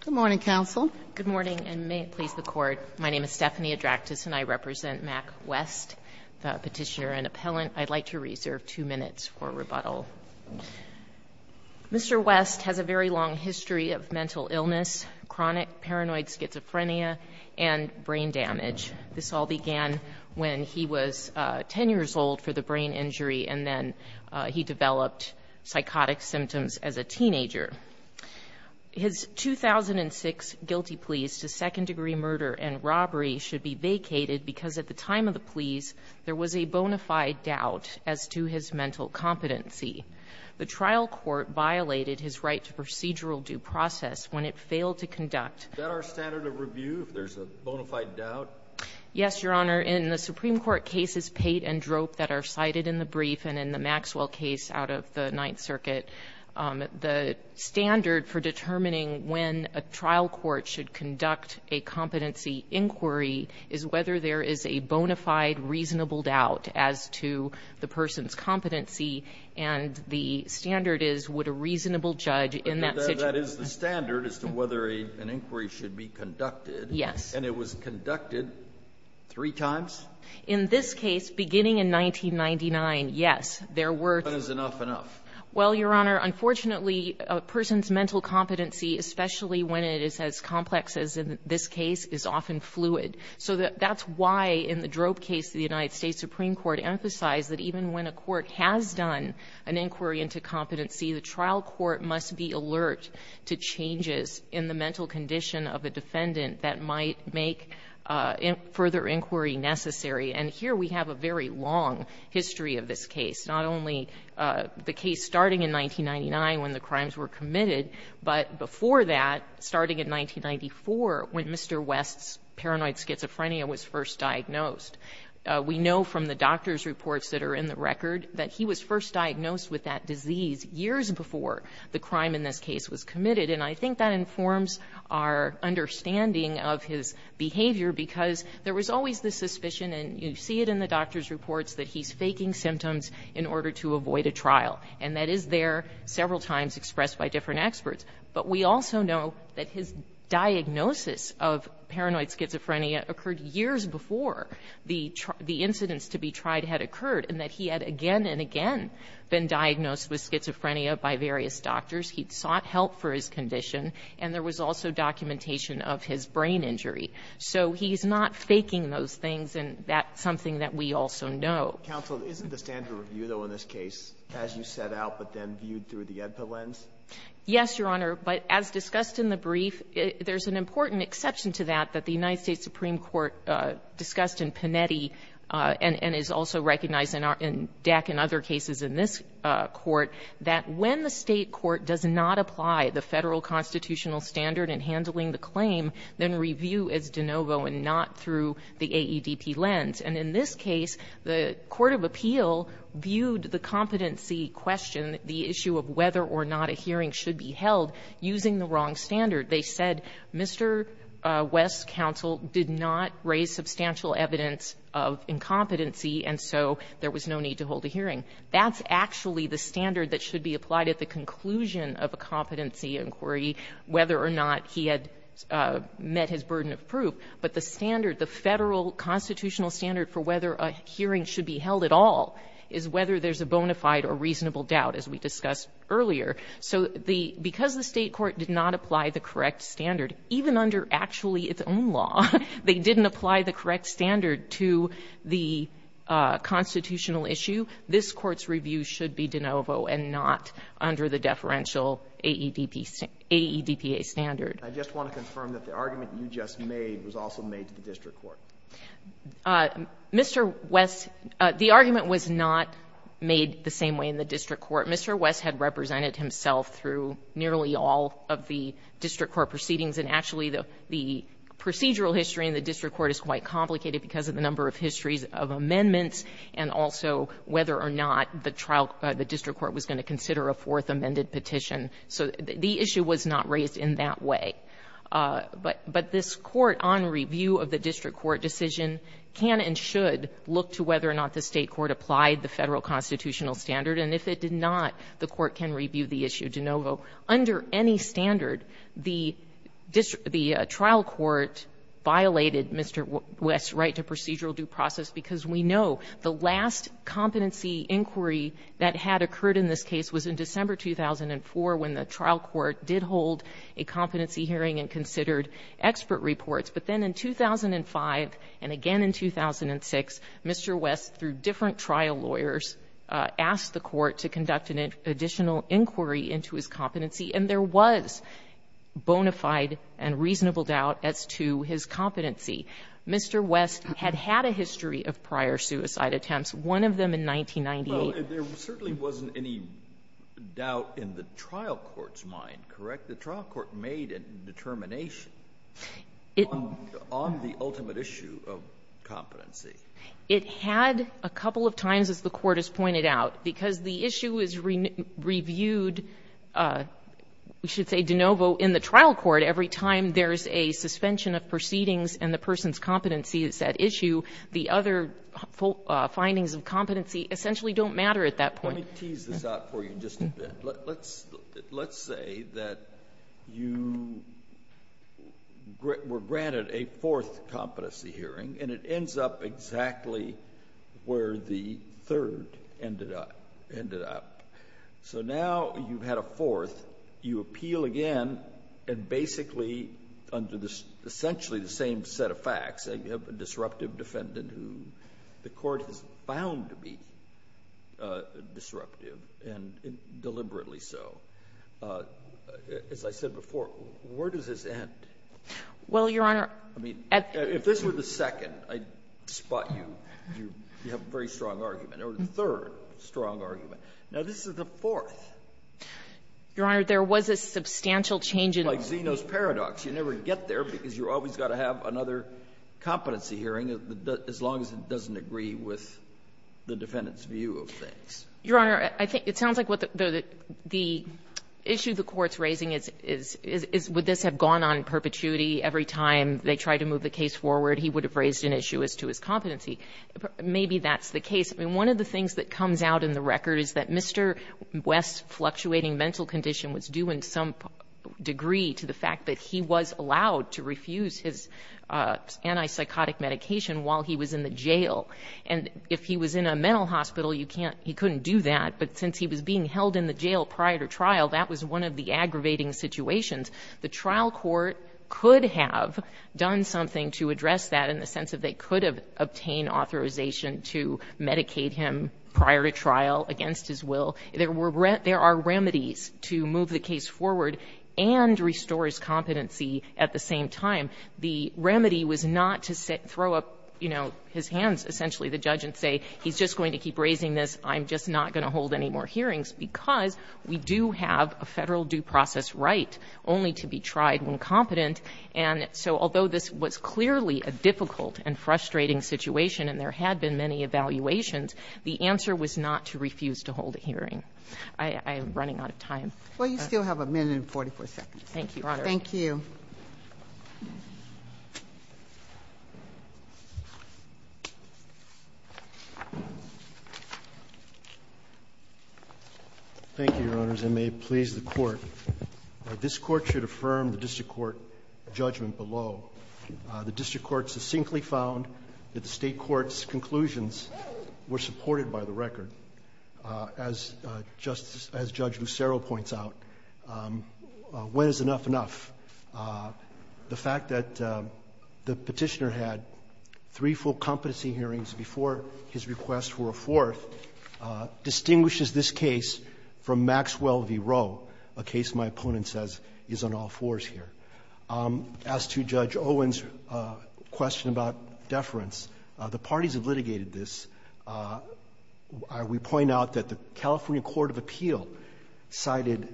Good morning, Counsel. Good morning, and may it please the Court. My name is Stephanie Adraktis, and I represent Mack West, the petitioner and appellant. I'd like to reserve two minutes for rebuttal. Mr. West has a very long history of mental illness, chronic paranoid schizophrenia, and brain damage. This all began when he was 10 years old for the brain injury, and then he developed psychotic symptoms as a teenager. His 2006 guilty pleas to second-degree murder and robbery should be vacated because at the time of the pleas, there was a bona fide doubt as to his mental competency. The trial court violated his right to procedural due process when it failed to conduct. Is that our standard of review, if there's a bona fide doubt? Yes, Your Honor. In the Supreme Court cases, Pate and Droop, that are cited in the brief and in the Maxwell case out of the Ninth Circuit, the standard for determining when a trial court should conduct a competency inquiry is whether there is a bona fide reasonable doubt as to the person's competency, and the standard is would a reasonable judge in that situation assess the standard as to whether an inquiry should be conducted? Yes. And it was conducted three times? In this case, beginning in 1999, yes, there were. When is enough enough? Well, Your Honor, unfortunately, a person's mental competency, especially when it is as complex as in this case, is often fluid. So that's why in the Droop case, the United States Supreme Court emphasized that even when a court has done an inquiry into competency, the trial court must be alert to changes in the mental condition of a defendant that might make further inquiry necessary. And here we have a very long history of this case. Not only the case starting in 1999, when the crimes were committed, but before that, starting in 1994, when Mr. West's paranoid schizophrenia was first diagnosed. We know from the doctor's reports that are in the record that he was first diagnosed with that disease years before the crime in this case was committed. And I think that informs our understanding of his behavior, because there was always the suspicion, and you see it in the doctor's reports, that he's faking symptoms in order to avoid a trial. And that is there several times expressed by different experts. But we also know that his diagnosis of paranoid schizophrenia occurred years before the incidents to be tried had occurred, and that he had again and again been diagnosed with schizophrenia by various doctors. He sought help for his condition, and there was also documentation of his brain injury. So he's not faking those things, and that's something that we also know. Roberts, isn't the standard review, though, in this case, as you set out, but then viewed through the EDPA lens? Yes, Your Honor. But as discussed in the brief, there's an important exception to that, that the United States has discussed in Panetti, and is also recognized in DEC and other cases in this Court, that when the State court does not apply the Federal constitutional standard in handling the claim, then review is de novo and not through the AEDP lens. And in this case, the court of appeal viewed the competency question, the issue of whether or not a hearing should be held, using the wrong standard. They said, Mr. West's counsel did not raise substantial evidence of incompetency, and so there was no need to hold a hearing. That's actually the standard that should be applied at the conclusion of a competency inquiry, whether or not he had met his burden of proof. But the standard, the Federal constitutional standard for whether a hearing should be held at all is whether there's a bona fide or reasonable doubt, as we discussed earlier. So the — because the State court did not apply the correct standard, even under actually its own law, they didn't apply the correct standard to the constitutional issue, this Court's review should be de novo and not under the deferential AEDPA standard. I just want to confirm that the argument you just made was also made to the district court. Mr. West — the argument was not made the same way in the district court. Mr. West had represented himself through nearly all of the district court proceedings. And actually, the procedural history in the district court is quite complicated because of the number of histories of amendments and also whether or not the trial — the district court was going to consider a fourth amended petition. So the issue was not raised in that way. But this Court, on review of the district court decision, can and should look to whether or not the State court applied the Federal constitutional standard. And if it did not, the Court can review the issue de novo. Under any standard, the trial court violated Mr. West's right to procedural due process, because we know the last competency inquiry that had occurred in this case was in December 2004, when the trial court did hold a competency hearing and considered expert reports. But then in 2005 and again in 2006, Mr. West, through different trial lawyers, asked the Court to conduct an additional inquiry into his competency. And there was bona fide and reasonable doubt as to his competency. Mr. West had had a history of prior suicide attempts, one of them in 1998. Alito, there certainly wasn't any doubt in the trial court's mind, correct? The trial court made a determination on the ultimate issue of competency. It had a couple of times, as the Court has pointed out, because the issue is reviewed, we should say de novo, in the trial court every time there's a suspension of proceedings and the person's competency is at issue. The other findings of competency essentially don't matter at that point. Let me tease this out for you just a bit. Let's say that you were granted a fourth competency hearing and it ends up exactly where the third ended up. So now you've had a fourth. You appeal again and basically, under essentially the same set of facts, say you have a disruptive defendant who the Court has found to be disruptive and deliberately so. As I said before, where does this end? Well, Your Honor, at the end of the second, I spot you, you have a very strong argument, or the third strong argument. Now, this is the fourth. Your Honor, there was a substantial change in the third. Like Zeno's paradox. You never get there because you've always got to have another competency hearing as long as it doesn't agree with the defendant's view of things. Your Honor, I think it sounds like what the issue the Court's raising is would this have gone on in perpetuity every time they tried to move the case forward, he would have raised an issue as to his competency. Maybe that's the case. I mean, one of the things that comes out in the record is that Mr. West's fluctuating mental condition was due in some degree to the fact that he was allowed to refuse his antipsychotic medication while he was in the jail. And if he was in a mental hospital, you can't — he couldn't do that. But since he was being held in the jail prior to trial, that was one of the aggravating situations. The trial court could have done something to address that in the sense that they could have obtained authorization to medicate him prior to trial against his will. There were — there are remedies to move the case forward and restore his competency at the same time. The remedy was not to throw up, you know, his hands, essentially, the judge, and say, he's just going to keep raising this, I'm just not going to hold any more hearings, because we do have a Federal due process right only to be tried when competent. And so although this was clearly a difficult and frustrating situation and there had been many evaluations, the answer was not to refuse to hold a hearing. I'm running out of time. Well, you still have a minute and 44 seconds. Thank you, Your Honor. Thank you. Thank you, Your Honors. I may please the Court. This Court should affirm the district court judgment below. The district court succinctly found that the State court's conclusions were supported by the record. As Justice — as Judge Lucero points out, when is enough enough? The fact that the Petitioner had three full competency hearings before his request for a fourth distinguishes this case from Maxwell v. Rowe, a case my opponent says is on all fours here. As to Judge Owen's question about deference, the parties have litigated this. We point out that the California court of appeal cited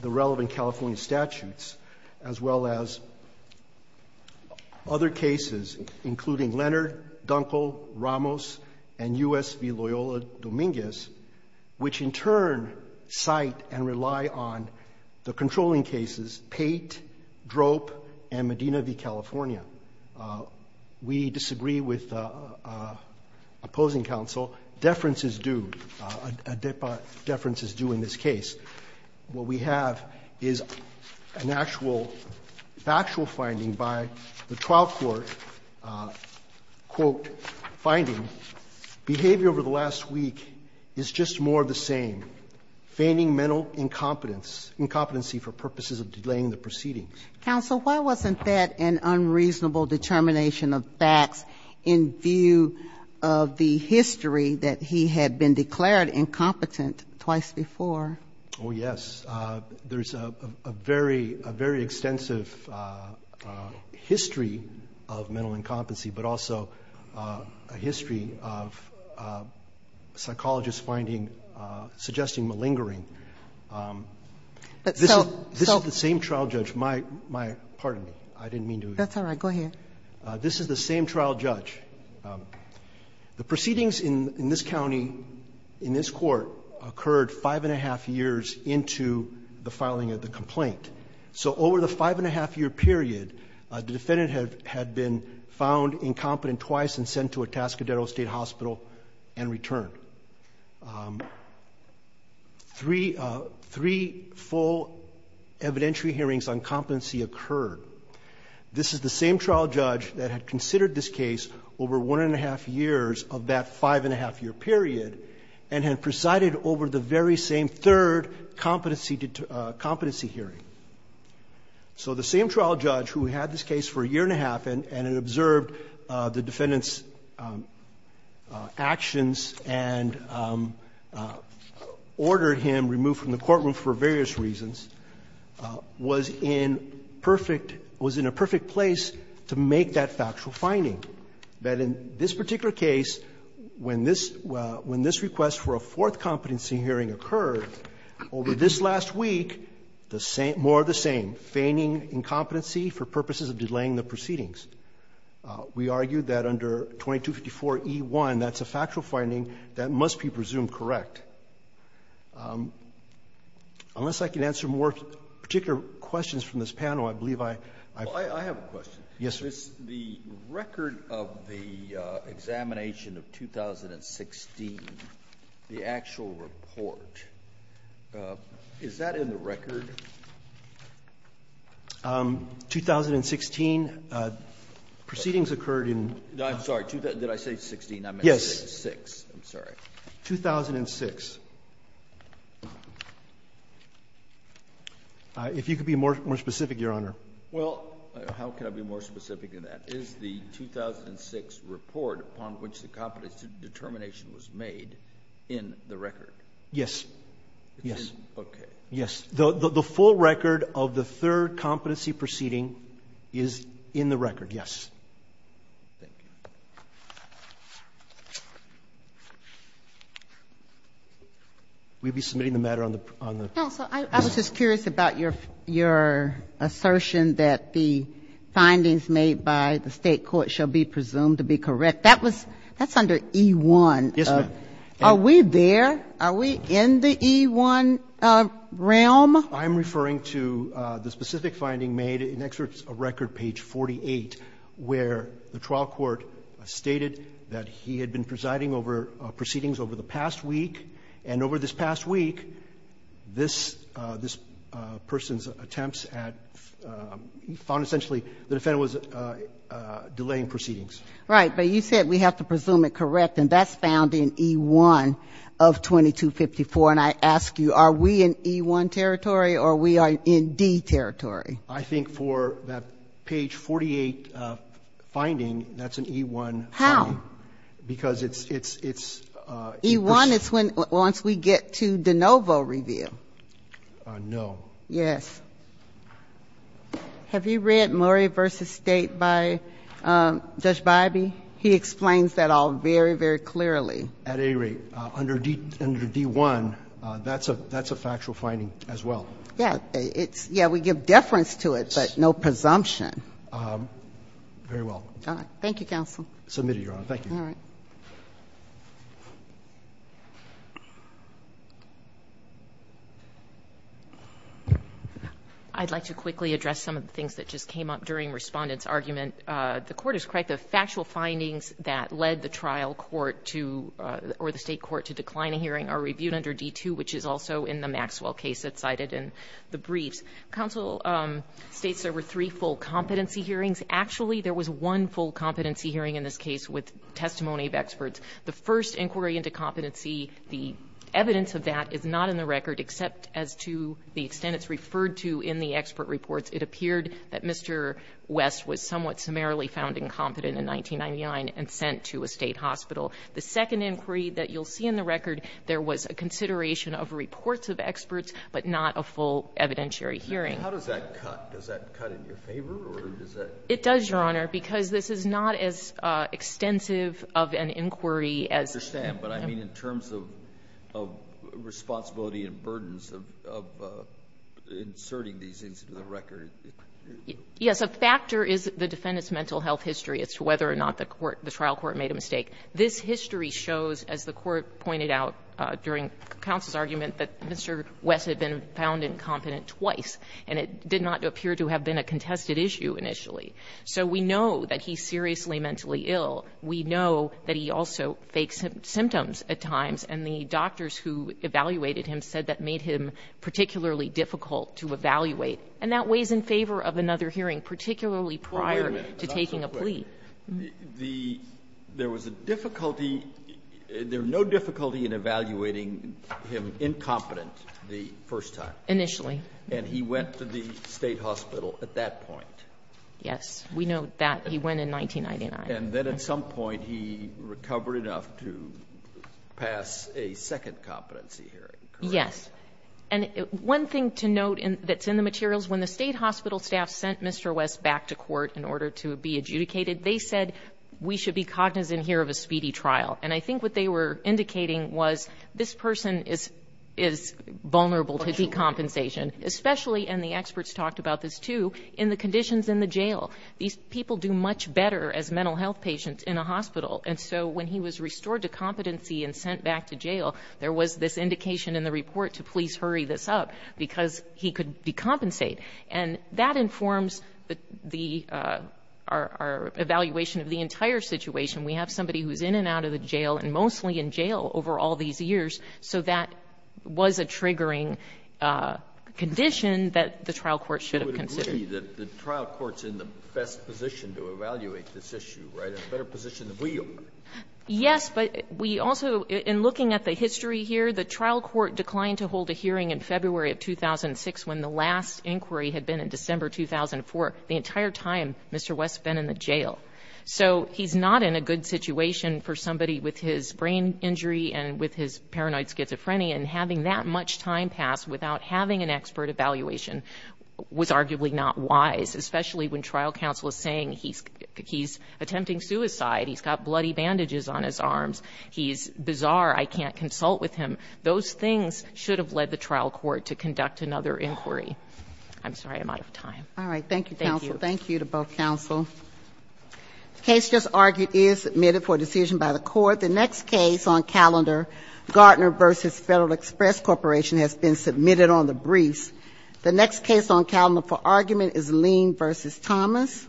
the relevant California statutes as well as other cases, including Leonard, Dunkel, Ramos, and U.S. v. Loyola Dominguez, which in turn cite and rely on the controlling cases, Pate, Dunkel, Drope, and Medina v. California. We disagree with opposing counsel. Deference is due. A deference is due in this case. What we have is an actual factual finding by the trial court, quote, finding, behavior over the last week is just more of the same, feigning mental incompetence for purposes of delaying the proceedings. Counsel, why wasn't that an unreasonable determination of facts in view of the history that he had been declared incompetent twice before? Oh, yes. There's a very, a very extensive history of mental incompetency, but also a history of psychologists finding, suggesting malingering. This is the same trial judge. My, my, pardon me. I didn't mean to. That's all right. Go ahead. This is the same trial judge. The proceedings in this county, in this court, occurred five and a half years into the filing of the complaint. So over the five and a half year period, the defendant had been found incompetent twice and sent to a Tascadero State Hospital and returned. Three, three full evidentiary hearings on competency occurred. This is the same trial judge that had considered this case over one and a half years of that five and a half year period and had presided over the very same third competency, competency hearing. So the same trial judge who had this case for a year and a half and, and had observed the defendant's actions and ordered him removed from the courtroom for various reasons, was in perfect, was in a perfect place to make that factual finding. That in this particular case, when this, when this request for a fourth competency hearing occurred, over this last week, the same, more of the same, feigning incompetency for purposes of delaying the proceedings. We argue that under 2254e1, that's a factual finding that must be presumed correct. Unless I can answer more particular questions from this panel, I believe I, I've been able to. Roberts. Yes, sir. The record of the examination of 2016, the actual report, is that in the record? 2016, proceedings occurred in. I'm sorry. Did I say 16? Yes. I meant to say 6. I'm sorry. 2006. If you could be more, more specific, Your Honor. Well, how can I be more specific than that? Is the 2006 report upon which the competency determination was made in the record? Yes. Yes. Okay. Yes. The, the full record of the third competency proceeding is in the record. Yes. Thank you. We'll be submitting the matter on the, on the. Counsel, I, I was just curious about your, your assertion that the findings made by the State court shall be presumed to be correct. That was, that's under e1. Yes, ma'am. Are we there? Are we in the e1 realm? I'm referring to the specific finding made in excerpts of record, page 48, where the trial court stated that he had been presiding over proceedings over the past week, and over this past week, this, this person's attempts at, found essentially the defendant was delaying proceedings. Right. But you said we have to presume it correct, and that's found in e1 of 2016. I'm referring to the e1 of 2254. And I ask you, are we in e1 territory, or we are in d territory? I think for that page 48 finding, that's an e1 finding. How? Because it's, it's, it's. e1 is when, once we get to DeNovo review. No. Yes. Have you read Murray v. State by Judge Bybee? He explains that all very, very clearly. At any rate, under d1, that's a factual finding as well. Yes. It's, yes, we give deference to it, but no presumption. Very well. All right. Thank you, counsel. Submitted, Your Honor. Thank you. All right. I'd like to quickly address some of the things that just came up during Respondent's argument. The court is correct. The factual findings that led the trial court to, or the State court to decline a hearing are reviewed under d2, which is also in the Maxwell case that's cited in the briefs. Counsel states there were three full competency hearings. Actually, there was one full competency hearing in this case with testimony of experts. The first inquiry into competency, the evidence of that is not in the record except as to the extent it's referred to in the expert reports. It appeared that Mr. West was somewhat summarily found incompetent in 1999 and sent to a State hospital. The second inquiry that you'll see in the record, there was a consideration of reports of experts, but not a full evidentiary hearing. How does that cut? Does that cut in your favor, or does that? It does, Your Honor, because this is not as extensive of an inquiry as the other. I understand, but I mean in terms of responsibility and burdens of inserting these into the record. Yes. A factor is the defendant's mental health history as to whether or not the court or the trial court made a mistake. This history shows, as the Court pointed out during counsel's argument, that Mr. West had been found incompetent twice, and it did not appear to have been a contested issue initially. So we know that he's seriously mentally ill. We know that he also fakes symptoms at times, and the doctors who evaluated him said that made him particularly difficult to evaluate. And that weighs in favor of another hearing, particularly prior to taking a plea. Wait a minute. There was a difficulty – there was no difficulty in evaluating him incompetent the first time. Initially. And he went to the State hospital at that point. Yes. We know that. He went in 1999. And then at some point he recovered enough to pass a second competency hearing. Yes. And one thing to note that's in the materials, when the State hospital staff sent Mr. West back to court in order to be adjudicated, they said, we should be cognizant here of a speedy trial. And I think what they were indicating was this person is vulnerable to decompensation, especially – and the experts talked about this, too – in the conditions in the jail. These people do much better as mental health patients in a hospital. And so when he was restored to competency and sent back to jail, there was this indication in the report to please hurry this up, because he could decompensate. And that informs the – our evaluation of the entire situation. We have somebody who's in and out of the jail and mostly in jail over all these years. So that was a triggering condition that the trial court should have considered. You would agree that the trial court's in the best position to evaluate this issue, right? In a better position than we are. Yes. But we also – in looking at the history here, the trial court declined to hold a hearing in February of 2006 when the last inquiry had been in December 2004, the entire time Mr. West had been in the jail. So he's not in a good situation for somebody with his brain injury and with his paranoid schizophrenia. And having that much time pass without having an expert evaluation was arguably not wise, especially when trial counsel is saying he's attempting suicide, he's got a lot of problems, he's bizarre, I can't consult with him. Those things should have led the trial court to conduct another inquiry. I'm sorry, I'm out of time. All right. Thank you, counsel. Thank you to both counsel. The case just argued is submitted for decision by the Court. The next case on calendar, Gartner v. Federal Express Corporation, has been submitted on the briefs. The next case on calendar for argument is Lean v. Thomas. Thank you.